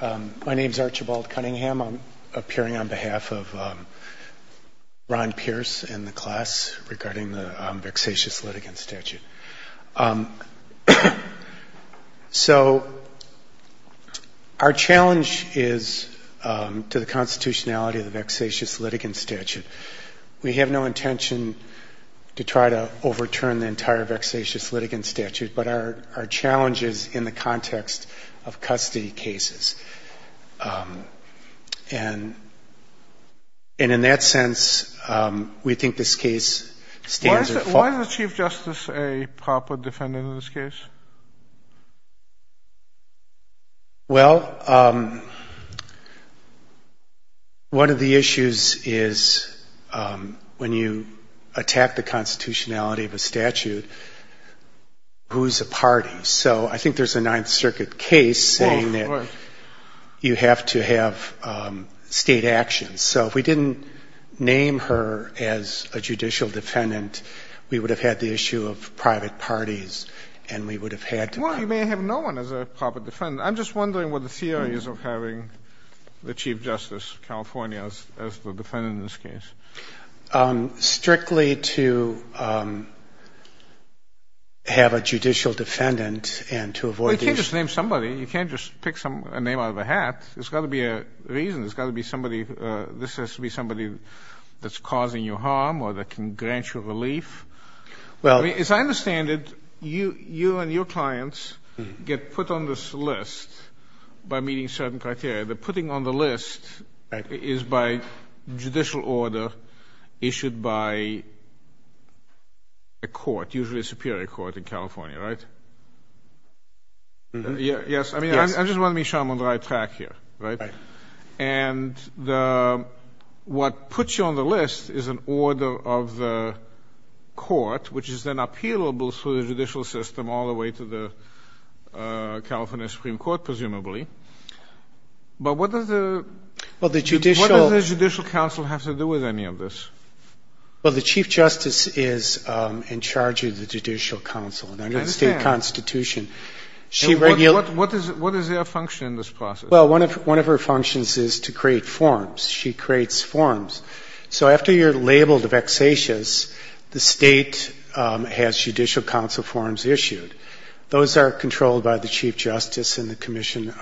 My name is Archibald Cunningham. I'm appearing on behalf of Ron Pierce and the class regarding the vexatious litigant statute. So our challenge is to the constitutionality of the vexatious litigant statute. We have no intention to try to overturn the entire vexatious litigant statute, but our challenge is in the context of custody cases. And in that sense, we think this case stands. Why is the Chief Justice a proper defendant in this case? Well, one of the issues is when you attack the constitutionality of a statute, who's a party? So I think there's a Ninth Circuit case saying that you have to have state actions. So if we didn't name her as a proper defendant, we would have had to. Well, you may have no one as a proper defendant. I'm just wondering what the theory is of having the Chief Justice of California as the defendant in this case. Strictly to have a judicial defendant and to avoid these Well, you can't just name somebody. You can't just pick a name out of a hat. There's got to be a reason. There's got to be somebody. This has to be somebody that's causing you harm or that can grant you relief. Well I mean, as I understand it, you and your clients get put on this list by meeting certain criteria. The putting on the list is by judicial order issued by a court, usually a superior court in California, right? Yes. I mean, I just want to make sure I'm on the right track here, right? And what puts you on the list is an order of the court, which is then appealable through the judicial system all the way to the California Supreme Court, presumably. But what does the Well, the judicial What does the Judicial Council have to do with any of this? Well, the Chief Justice is in charge of the Judicial Council. I understand. And under the state constitution, she What is her function in this process? Well, one of her functions is to create forms. She creates forms. So after you're labeled a vexatious, the state has Judicial Council forms issued. Those are controlled by the Chief Justice and the commission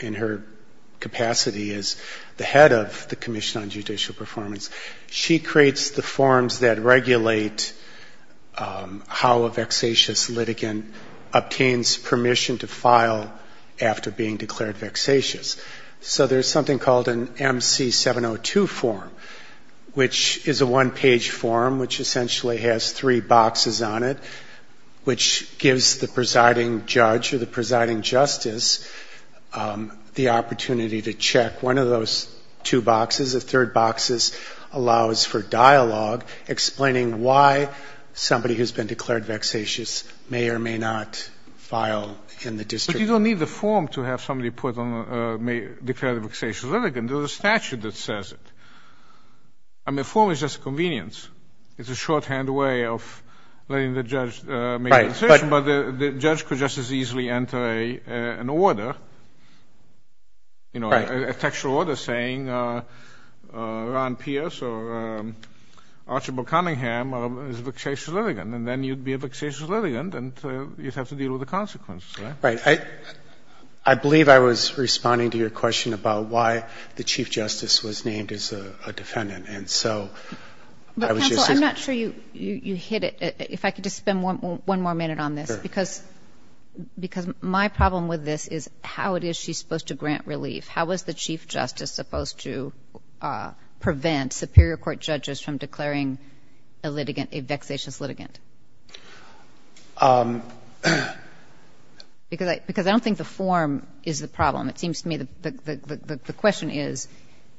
in her capacity as the head of the Commission on Judicial Performance. She creates the forms that regulate how a vexatious litigant obtains permission to file after being declared vexatious. So there's something called an MC-702 form, which is a one-page form which essentially has three boxes on it, which gives the presiding judge or the presiding justice the opportunity to check one of those two boxes. The third box allows for dialogue explaining why somebody who's been declared vexatious may or may not file in the district. But you don't need the form to have somebody put on a declared vexatious litigant. There's a statute that says it. I mean, a form is just a convenience. It's a shorthand way of letting the judge make a decision, but the judge could just as easily enter an order, you know, a textual order saying Ron Pierce or Archibald Cunningham is a vexatious litigant, and then you'd be a vexatious litigant and you'd have to deal with the consequences, right? Right. I believe I was responding to your question about why the chief justice was named as a defendant, and so I was just asking. But, counsel, I'm not sure you hit it. If I could just spend one more minute on this, because my problem with this is how is she supposed to grant relief? How is the chief justice supposed to prevent superior court judges from declaring a litigant a vexatious litigant? Because I don't think the form is the problem. It seems to me the question is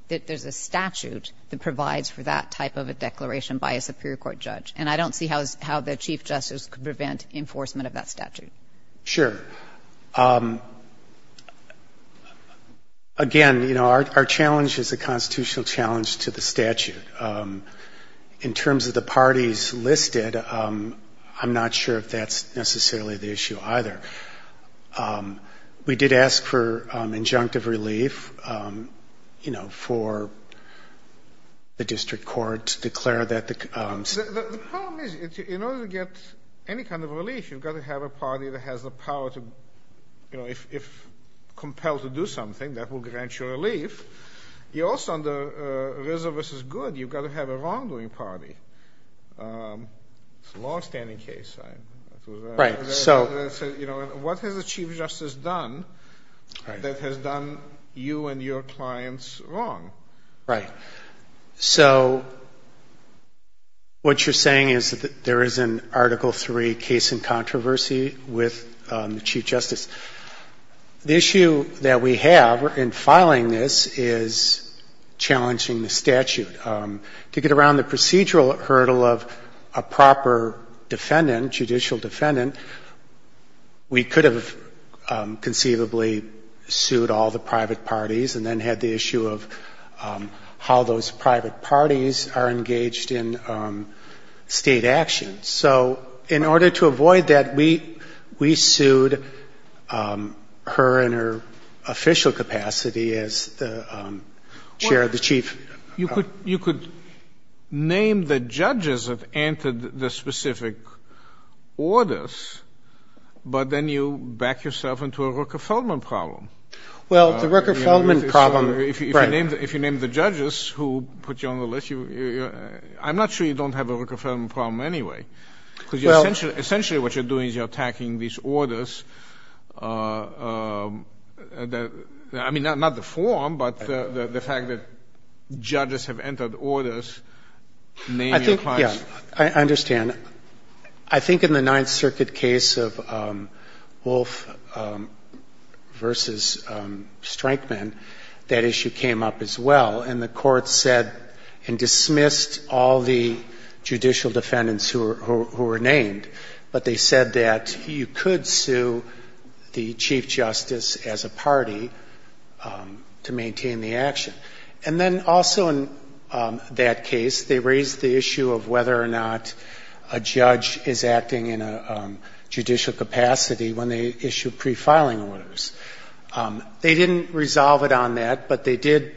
that there's a statute that provides for that type of a declaration by a superior court judge, and I don't see how the chief justice could prevent enforcement of that statute. Sure. Again, you know, our challenge is a constitutional challenge to the statute. In terms of the parties listed, I'm not sure if that's necessarily the issue either. We did ask for injunctive relief, you know, for the district court to declare that the... The problem is in order to get any kind of relief, you've got to have a party that has the power to, you know, if compelled to do something, that will grant you relief. You also, under RZA v. Good, you've got to have a wrongdoing party. It's a longstanding case. Right. You know, what has the chief justice done that has done you and your clients wrong? Right. So what you're saying is that there is an Article III case in controversy with the chief justice. The issue that we have in filing this is challenging the statute. To get around the procedural hurdle of a proper defendant, judicial defendant, we could have conceivably sued all the private parties and then had the issue of how those private parties are engaged in State action. So in order to avoid that, we sued her in her official capacity as the chair of the chief. You could name the judges that entered the specific orders, but then you back yourself into a Rooker-Feldman problem. Well, the Rooker-Feldman problem... If you name the judges who put you on the list, I'm not sure you don't have a Rooker-Feldman problem anyway. Because essentially what you're doing is you're attacking these orders. I mean, not the form, but the fact that judges have entered orders. Name your clients. I think, yeah, I understand. I think in the Ninth Circuit case of Wolfe v. Strankman, that issue came up as well. And the Court said and dismissed all the judicial defendants who were named. But they said that you could sue the chief justice as a party to maintain the action. And then also in that case, they raised the issue of whether or not a judge is acting in a judicial capacity when they issue pre-filing orders. They didn't resolve it on that, but they did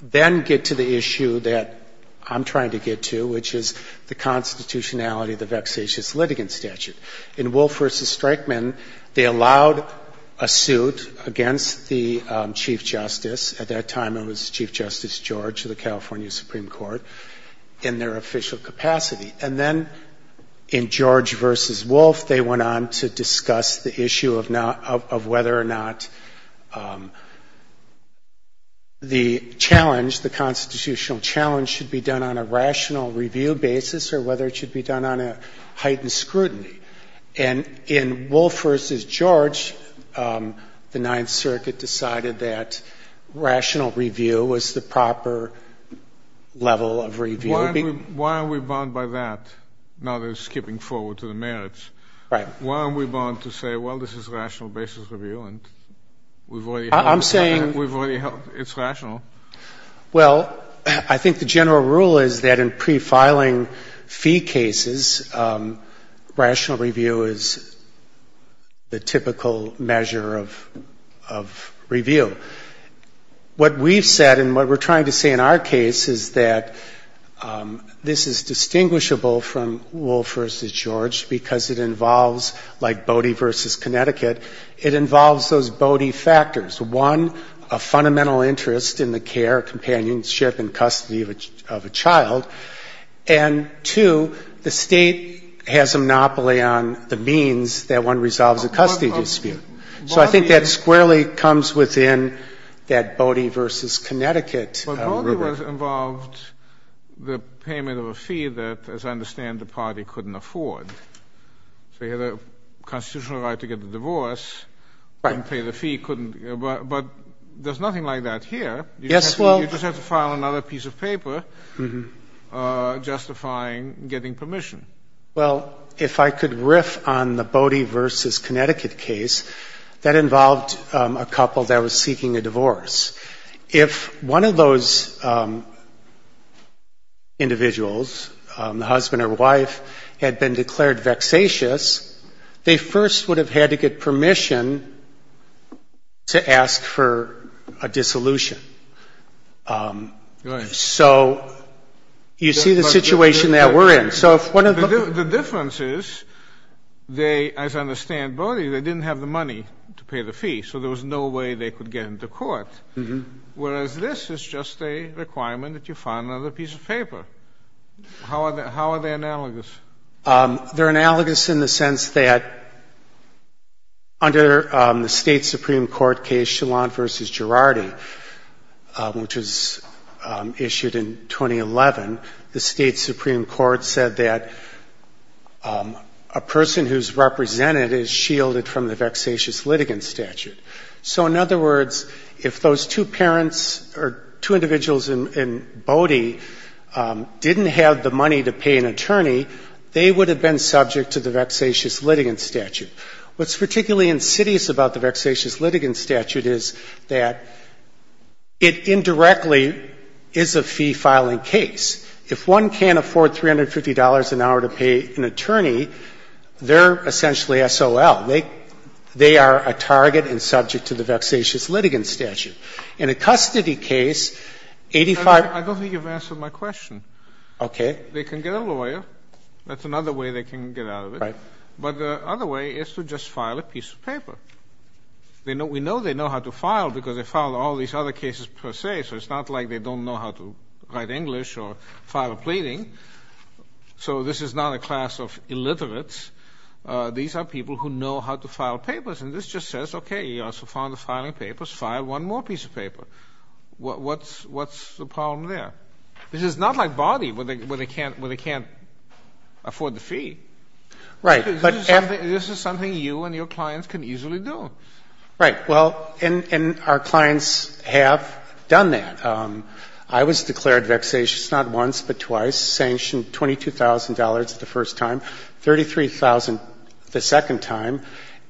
then get to the issue that I'm trying to get to, which is the constitutionality of the vexatious litigant statute. In Wolfe v. Strankman, they allowed a suit against the chief justice. At that time, it was Chief Justice George of the California Supreme Court in their official capacity. And then in George v. Wolfe, they went on to discuss the issue of whether or not the challenge, the constitutional challenge, should be done on a rational review basis or whether it should be done on a heightened scrutiny. And in Wolfe v. George, the Ninth Circuit decided that rational review was the proper level of review. Why are we bound by that, now that it's skipping forward to the merits? Why are we bound to say, well, this is rational basis review and we've already held it? It's rational. Well, I think the general rule is that in pre-filing fee cases, rational review is the typical measure of review. What we've said and what we're trying to say in our case is that this is distinguishable from Wolfe v. George because it involves, like Bodie v. Connecticut, it involves those Bodie factors. One, a fundamental interest in the care, companionship and custody of a child. And two, the State has a monopoly on the means that one resolves a custody dispute. So I think that squarely comes within that Bodie v. Connecticut rubric. But Bodie involved the payment of a fee that, as I understand, the party couldn't afford. So you had a constitutional right to get the divorce. Right. You couldn't pay the fee. But there's nothing like that here. Yes, well. You just have to file another piece of paper justifying getting permission. Well, if I could riff on the Bodie v. Connecticut case, that involved a couple that was seeking a divorce. If one of those individuals, the husband or wife, had been declared vexatious, they first would have had to get permission to ask for a dissolution. Right. So you see the situation that we're in. The difference is they, as I understand Bodie, they didn't have the money to pay the fee. So there was no way they could get into court, whereas this is just a requirement that you file another piece of paper. How are they analogous? They're analogous in the sense that under the State's Supreme Court case, Chillon v. Connecticut said that a person who's represented is shielded from the vexatious litigant statute. So in other words, if those two parents or two individuals in Bodie didn't have the money to pay an attorney, they would have been subject to the vexatious litigant statute. What's particularly insidious about the vexatious litigant statute is that it indirectly is a fee-filing case. If one can't afford $350 an hour to pay an attorney, they're essentially S.O.L. They are a target and subject to the vexatious litigant statute. In a custody case, 85- I don't think you've answered my question. Okay. They can get a lawyer. That's another way they can get out of it. Right. But the other way is to just file a piece of paper. We know they know how to file because they filed all these other cases per se, so it's not like they don't know how to write English or file a pleading. So this is not a class of illiterates. These are people who know how to file papers. And this just says, okay, you are so fond of filing papers, file one more piece of paper. What's the problem there? This is not like Bodie where they can't afford the fee. Right. This is something you and your clients can easily do. Right. Well, and our clients have done that. I was declared vexatious not once but twice, sanctioned $22,000 the first time, $33,000 the second time.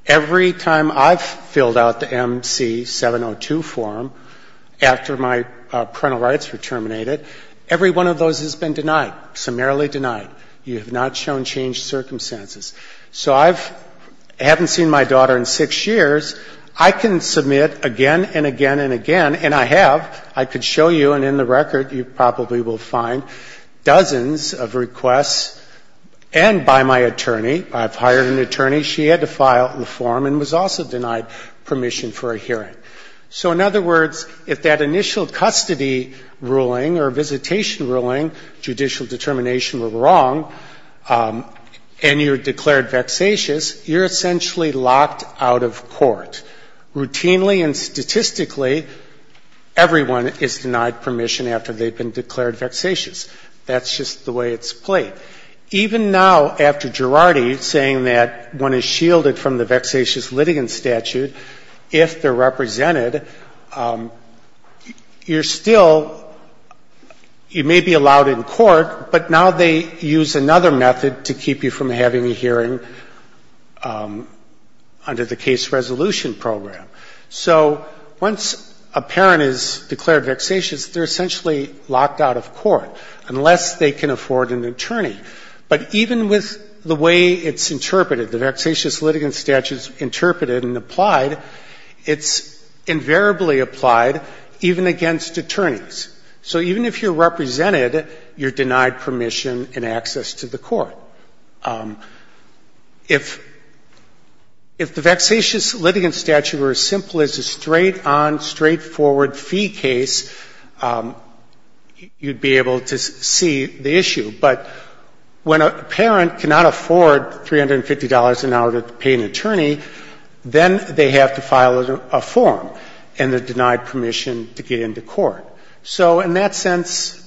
Every time I've filled out the MC-702 form after my parental rights were terminated, every one of those has been denied, summarily denied. You have not shown changed circumstances. So I haven't seen my daughter in six years. I can submit again and again and again, and I have. I could show you, and in the record you probably will find dozens of requests, and by my attorney. I've hired an attorney. She had to file the form and was also denied permission for a hearing. So in other words, if that initial custody ruling or visitation ruling, judicial determination were wrong, and you're declared vexatious, you're essentially locked out of court. Routinely and statistically, everyone is denied permission after they've been declared vexatious. That's just the way it's played. Even now, after Girardi saying that one is shielded from the vexatious litigant statute, if they're represented, you're still, you may be allowed in court, but now they use another method to keep you from having a hearing under the case resolution program. So once a parent is declared vexatious, they're essentially locked out of court unless they can afford an attorney. But even with the way it's interpreted, the vexatious litigant statute is interpreted and applied, it's invariably applied even against attorneys. So even if you're represented, you're denied permission and access to the court. If the vexatious litigant statute were as simple as a straight-on, straightforward fee case, you'd be able to see the issue. But when a parent cannot afford $350 an hour to pay an attorney, then they have to file a form, and they're denied permission to get into court. So in that sense,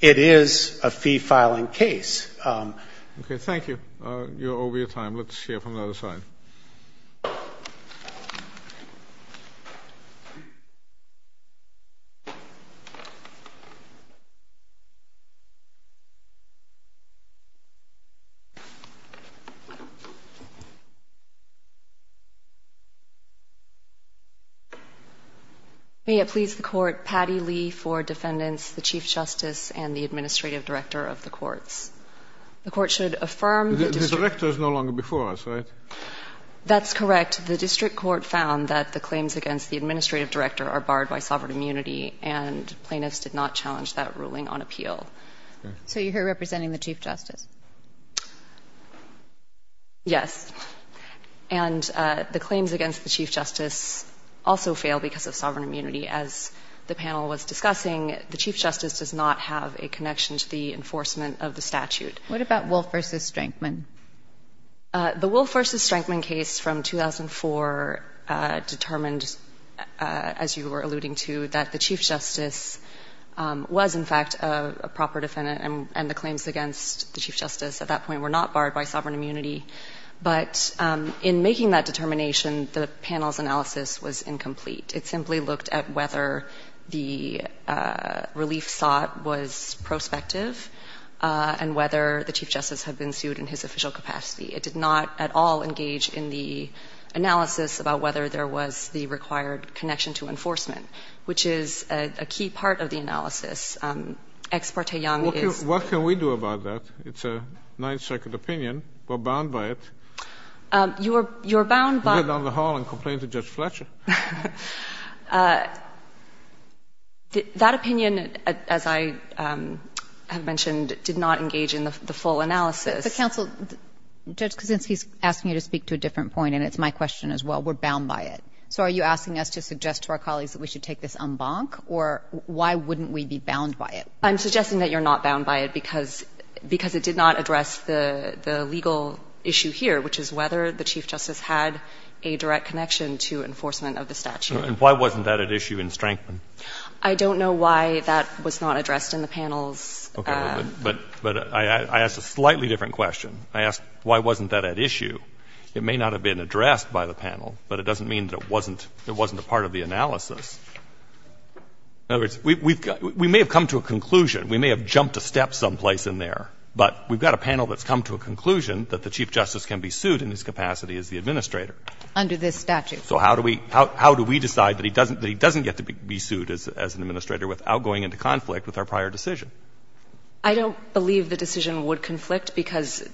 it is a fee-filing case. Okay. Thank you. You're over your time. Let's hear from the other side. May it please the Court, Patty Lee for Defendants, the Chief Justice, and the Administrative Director of the Courts. The Court should affirm the district court found that the claims against the Administrative Director are barred by sovereign immunity, and plaintiffs did not challenge that ruling on appeal. So you're here representing the Chief Justice? Yes. And the claims against the Chief Justice also fail because of sovereign immunity. As the panel was discussing, the Chief Justice does not have a connection to the enforcement of the statute. What about Wolf v. Strankman? The Wolf v. Strankman case from 2004 determined, as you were alluding to, that the Chief Justice at that point were not barred by sovereign immunity. But in making that determination, the panel's analysis was incomplete. It simply looked at whether the relief sought was prospective and whether the Chief Justice had been sued in his official capacity. It did not at all engage in the analysis about whether there was the required connection to enforcement, which is a key part of the analysis. Ex parte Young is... Your Honor, I have a nine-second opinion. We're bound by it. You're bound by... Go down the hall and complain to Judge Fletcher. That opinion, as I have mentioned, did not engage in the full analysis. But, Counsel, Judge Kuczynski is asking you to speak to a different point, and it's my question as well. We're bound by it. So are you asking us to suggest to our colleagues that we should take this en banc, or why wouldn't we be bound by it? I'm suggesting that you're not bound by it because it did not address the legal issue here, which is whether the Chief Justice had a direct connection to enforcement of the statute. And why wasn't that at issue in Strankman? I don't know why that was not addressed in the panel's... Okay. But I asked a slightly different question. I asked why wasn't that at issue. It may not have been addressed by the panel, but it doesn't mean that it wasn't a part of the analysis. In other words, we may have come to a conclusion, we may have jumped a step someplace in there, but we've got a panel that's come to a conclusion that the Chief Justice can be sued in his capacity as the administrator. Under this statute. So how do we decide that he doesn't get to be sued as an administrator without going into conflict with our prior decision? I don't believe the decision would conflict, because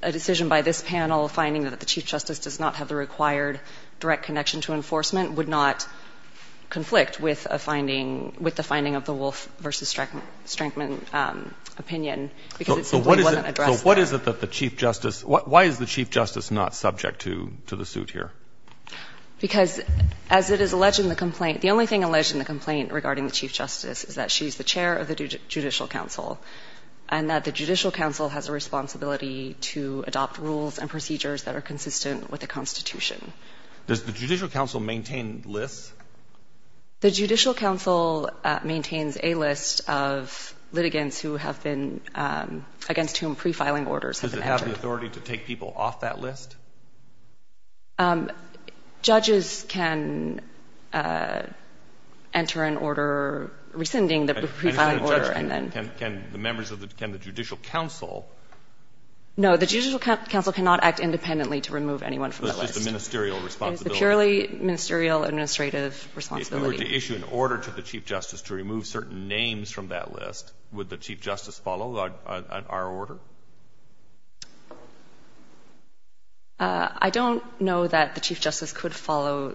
a decision by this panel finding that the Chief Justice does not have the required direct connection to enforcement would not conflict with a finding, with the finding of the Wolf v. Strankman opinion, because it simply wasn't addressed there. So what is it that the Chief Justice, why is the Chief Justice not subject to the suit here? Because as it is alleged in the complaint, the only thing alleged in the complaint regarding the Chief Justice is that she's the chair of the Judicial Council and that the Judicial Council has a responsibility to adopt rules and procedures that are consistent with the Constitution. Does the Judicial Council maintain lists? The Judicial Council maintains a list of litigants who have been, against whom pre-filing orders have been entered. Does it have the authority to take people off that list? Judges can enter an order rescinding the pre-filing order and then. Can the Judicial Council? No, the Judicial Council cannot act independently to remove anyone from the list. It is the ministerial responsibility. It is the purely ministerial administrative responsibility. If they were to issue an order to the Chief Justice to remove certain names from that list, would the Chief Justice follow our order? I don't know that the Chief Justice could follow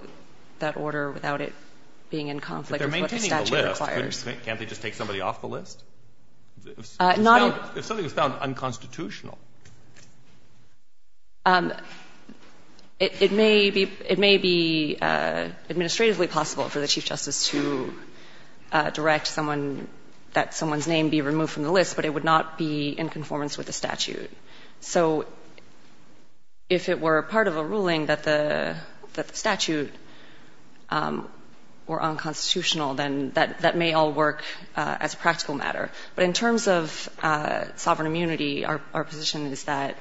that order without it being in conflict with what the statute requires. If they're maintaining the list, can't they just take somebody off the list? If something is found unconstitutional. It may be administratively possible for the Chief Justice to direct someone, that someone's name be removed from the list, but it would not be in conformance with the statute. So if it were part of a ruling that the statute were unconstitutional, then that may all work as a practical matter. I would say that the best position is that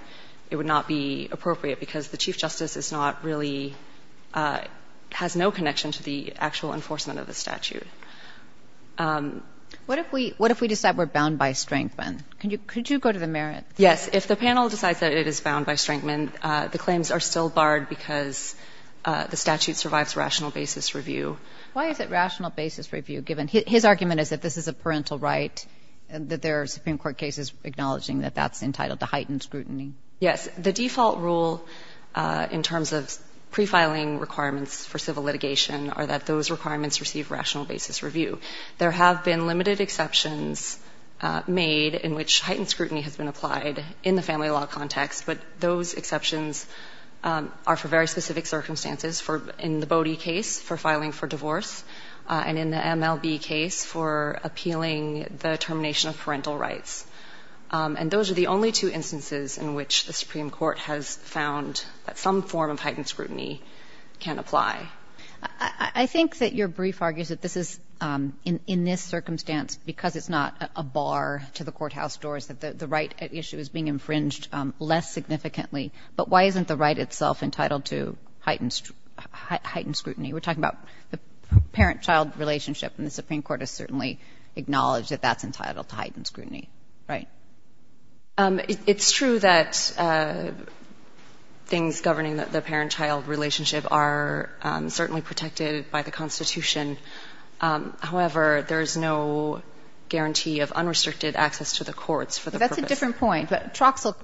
it would not be appropriate because the Chief Justice is not really – has no connection to the actual enforcement of the statute. What if we decide we're bound by Strankman? Could you go to the merits? Yes. If the panel decides that it is bound by Strankman, the claims are still barred because the statute survives rational basis review. Why is it rational basis review given? His argument is that this is a parental right, that there are Supreme Court cases acknowledging that that's entitled to heightened scrutiny. Yes. The default rule in terms of pre-filing requirements for civil litigation are that those requirements receive rational basis review. There have been limited exceptions made in which heightened scrutiny has been applied in the family law context, but those exceptions are for very specific circumstances in the Bodie case for filing for divorce and in the MLB case for appealing the termination of parental rights. And those are the only two instances in which the Supreme Court has found that some form of heightened scrutiny can apply. I think that your brief argues that this is, in this circumstance, because it's not a bar to the courthouse doors, that the right at issue is being infringed less significantly. But why isn't the right itself entitled to heightened scrutiny? We're talking about the parent-child relationship, and the Supreme Court has certainly acknowledged that that's entitled to heightened scrutiny. Right. It's true that things governing the parent-child relationship are certainly protected by the Constitution. However, there's no guarantee of unrestricted access to the courts for the purpose. That's a different point. But Troxell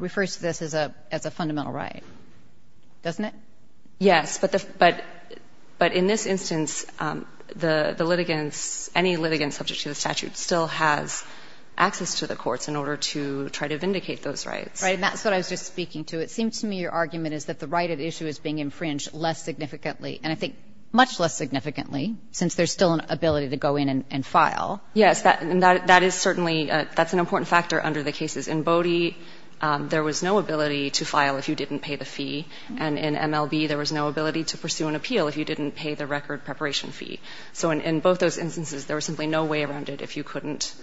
refers to this as a fundamental right, doesn't it? Yes. But in this instance, the litigants, any litigants subject to the statute still has access to the courts in order to try to vindicate those rights. Right. And that's what I was just speaking to. It seems to me your argument is that the right at issue is being infringed less significantly, and I think much less significantly, since there's still an ability to go in and file. Yes. And that is certainly an important factor under the cases. In Bodie, there was no ability to file if you didn't pay the fee. And in MLB, there was no ability to pursue an appeal if you didn't pay the record preparation fee. So in both those instances, there was simply no way around it if you couldn't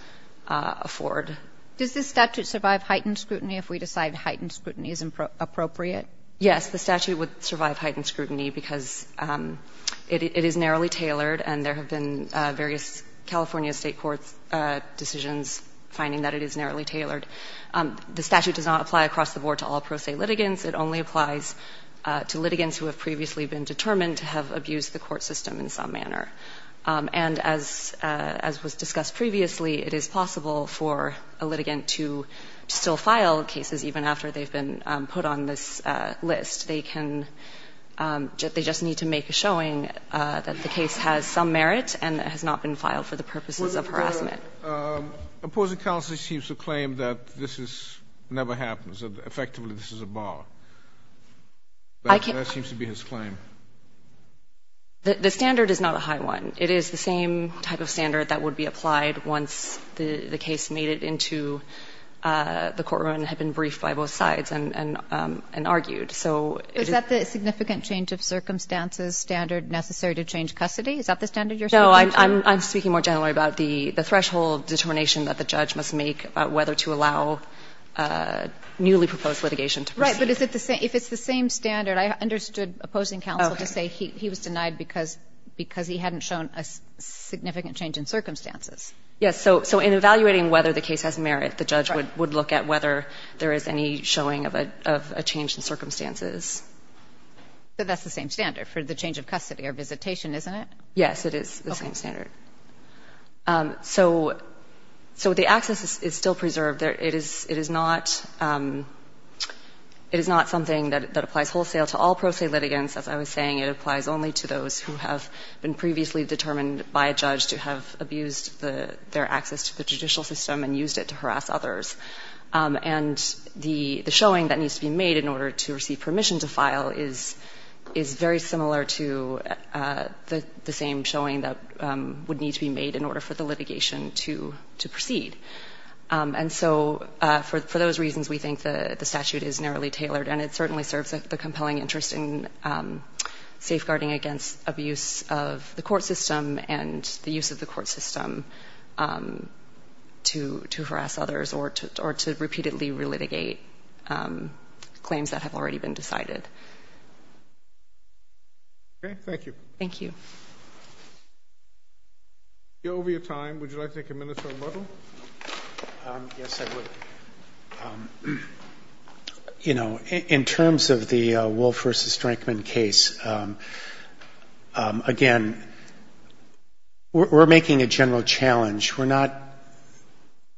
afford. Does this statute survive heightened scrutiny if we decide heightened scrutiny is appropriate? Yes. The statute would survive heightened scrutiny because it is narrowly tailored, and there have been various California State courts' decisions finding that it is narrowly tailored. The statute does not apply across the board to all pro se litigants. It only applies to litigants who have previously been determined to have abused the court system in some manner. And as was discussed previously, it is possible for a litigant to still file cases even after they've been put on this list. They can — they just need to make a showing that the case has some merit and has not been filed for the purposes of harassment. Opposing counsel seems to claim that this is — never happens, that effectively this is a bar. That seems to be his claim. The standard is not a high one. It is the same type of standard that would be applied once the case made it into the courtroom and had been briefed by both sides and argued. So it is — Is that the significant change of circumstances standard necessary to change custody? Is that the standard you're speaking to? I'm speaking more generally about the threshold determination that the judge must make about whether to allow newly proposed litigation to proceed. Right. But is it the same — if it's the same standard, I understood opposing counsel to say he was denied because he hadn't shown a significant change in circumstances. Yes. So in evaluating whether the case has merit, the judge would look at whether there is any showing of a change in circumstances. So that's the same standard for the change of custody or visitation, isn't it? Yes, it is the same standard. Okay. So the access is still preserved. It is not — it is not something that applies wholesale to all pro se litigants. As I was saying, it applies only to those who have been previously determined by a judge to have abused their access to the judicial system and used it to harass others. And the showing that needs to be made in order to receive permission to file is very similar to the same showing that would need to be made in order for the litigation to proceed. And so for those reasons, we think the statute is narrowly tailored, and it certainly serves the compelling interest in safeguarding against abuse of the court system and the use of the court system to harass others or to repeatedly relitigate claims that have already been decided. Okay. Thank you. Thank you. We're over your time. Would you like to take a minute or a bubble? Yes, I would. You know, in terms of the Wolfe v. Strankman case, again, we're making a general challenge. We're not,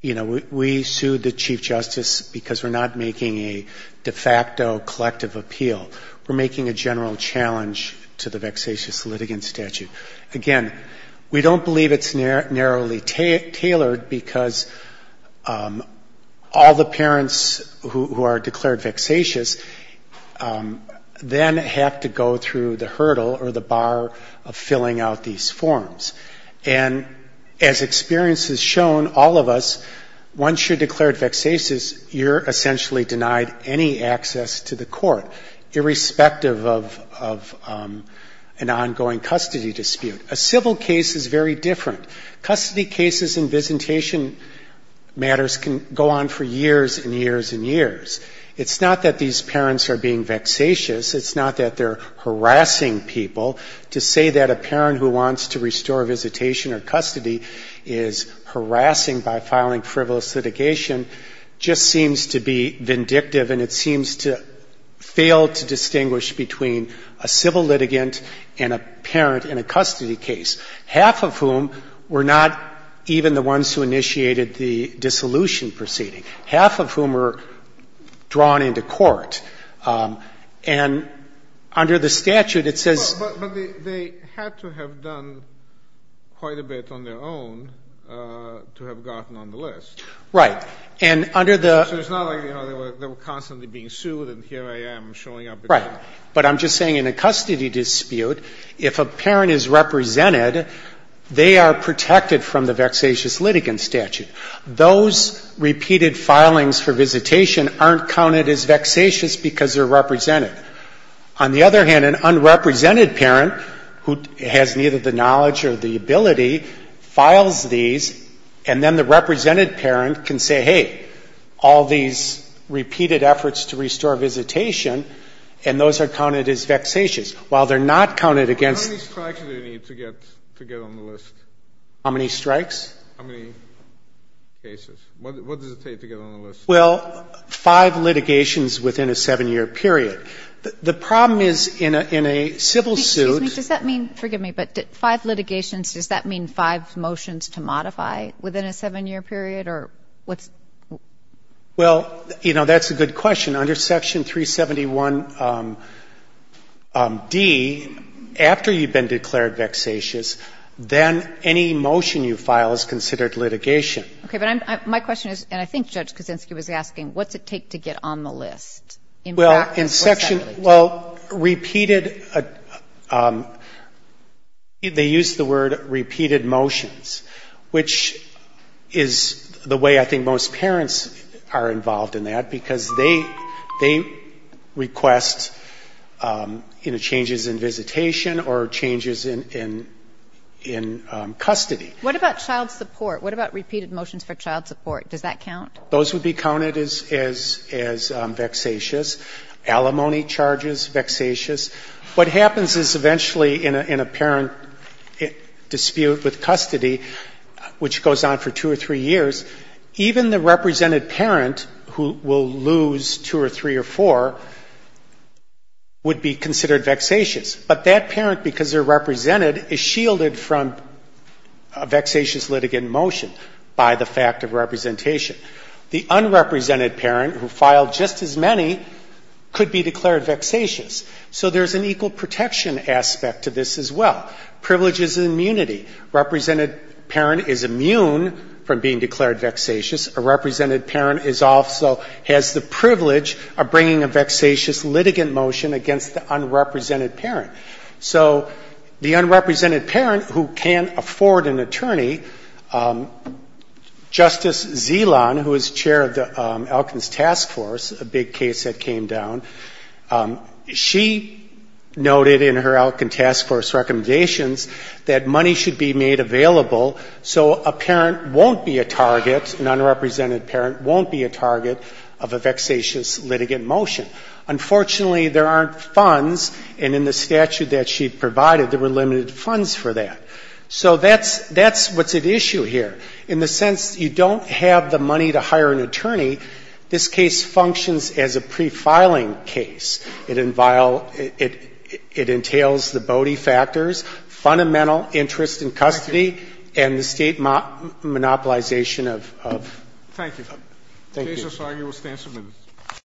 you know, we sued the chief justice because we're not making a de facto collective appeal. We're making a general challenge to the vexatious litigant statute. Again, we don't believe it's narrowly tailored because all the parents who are declared vexatious then have to go through the hurdle or the bar of filling out these forms. And as experience has shown all of us, once you're declared vexatious, you're essentially denied any access to the court, irrespective of an ongoing custody dispute. A civil case is very different. Custody cases and visitation matters can go on for years and years and years. It's not that these parents are being vexatious. It's not that they're harassing people. To say that a parent who wants to restore visitation or custody is harassing by means of a civil litigant would be vindictive, and it seems to fail to distinguish between a civil litigant and a parent in a custody case, half of whom were not even the ones who initiated the dissolution proceeding, half of whom were drawn into court. And under the statute, it says they had to have done quite a bit on their own to have gotten on the list. Right. So it's not like, you know, they were constantly being sued and here I am showing up again. Right. But I'm just saying in a custody dispute, if a parent is represented, they are protected from the vexatious litigant statute. Those repeated filings for visitation aren't counted as vexatious because they're represented. On the other hand, an unrepresented parent who has neither the knowledge or the ability files these, and then the represented parent can say, hey, all these repeated efforts to restore visitation, and those are counted as vexatious. While they're not counted against the statute. How many strikes do they need to get on the list? How many strikes? How many cases? What does it take to get on the list? Well, five litigations within a 7-year period. The problem is in a civil suit. Excuse me. Does that mean, forgive me, but five litigations, does that mean five motions to modify within a 7-year period or what's? Well, you know, that's a good question. Under Section 371D, after you've been declared vexatious, then any motion you file is considered litigation. Okay. But my question is, and I think Judge Kuczynski was asking, what's it take to get on the list? Well, in Section, well, repeated, they use the word repeated motions, which is the way I think most parents are involved in that, because they request, you know, changes in visitation or changes in custody. What about child support? What about repeated motions for child support? Does that count? Those would be counted as vexatious. Alimony charges, vexatious. What happens is eventually in a parent dispute with custody, which goes on for two or three years, even the represented parent who will lose two or three or four would be considered vexatious. But that parent, because they're represented, is shielded from a vexatious litigant motion by the fact of representation. The unrepresented parent who filed just as many could be declared vexatious. So there's an equal protection aspect to this as well. Privilege is immunity. Represented parent is immune from being declared vexatious. A represented parent is also, has the privilege of bringing a vexatious litigant motion against the unrepresented parent. So the unrepresented parent who can't afford an attorney, Justice Zeland, who is chair of the Elkins Task Force, a big case that came down, she noted in her Elkins Task Force recommendations that money should be made available so a parent won't be a target, an unrepresented parent won't be a target of a vexatious litigant motion. Unfortunately, there aren't funds, and in the statute that she provided, there were limited funds for that. So that's what's at issue here. In the sense you don't have the money to hire an attorney, this case functions as a pre-filing case. It entails the Bode factors, fundamental interest in custody, and the State monopolization of federal stance of limits.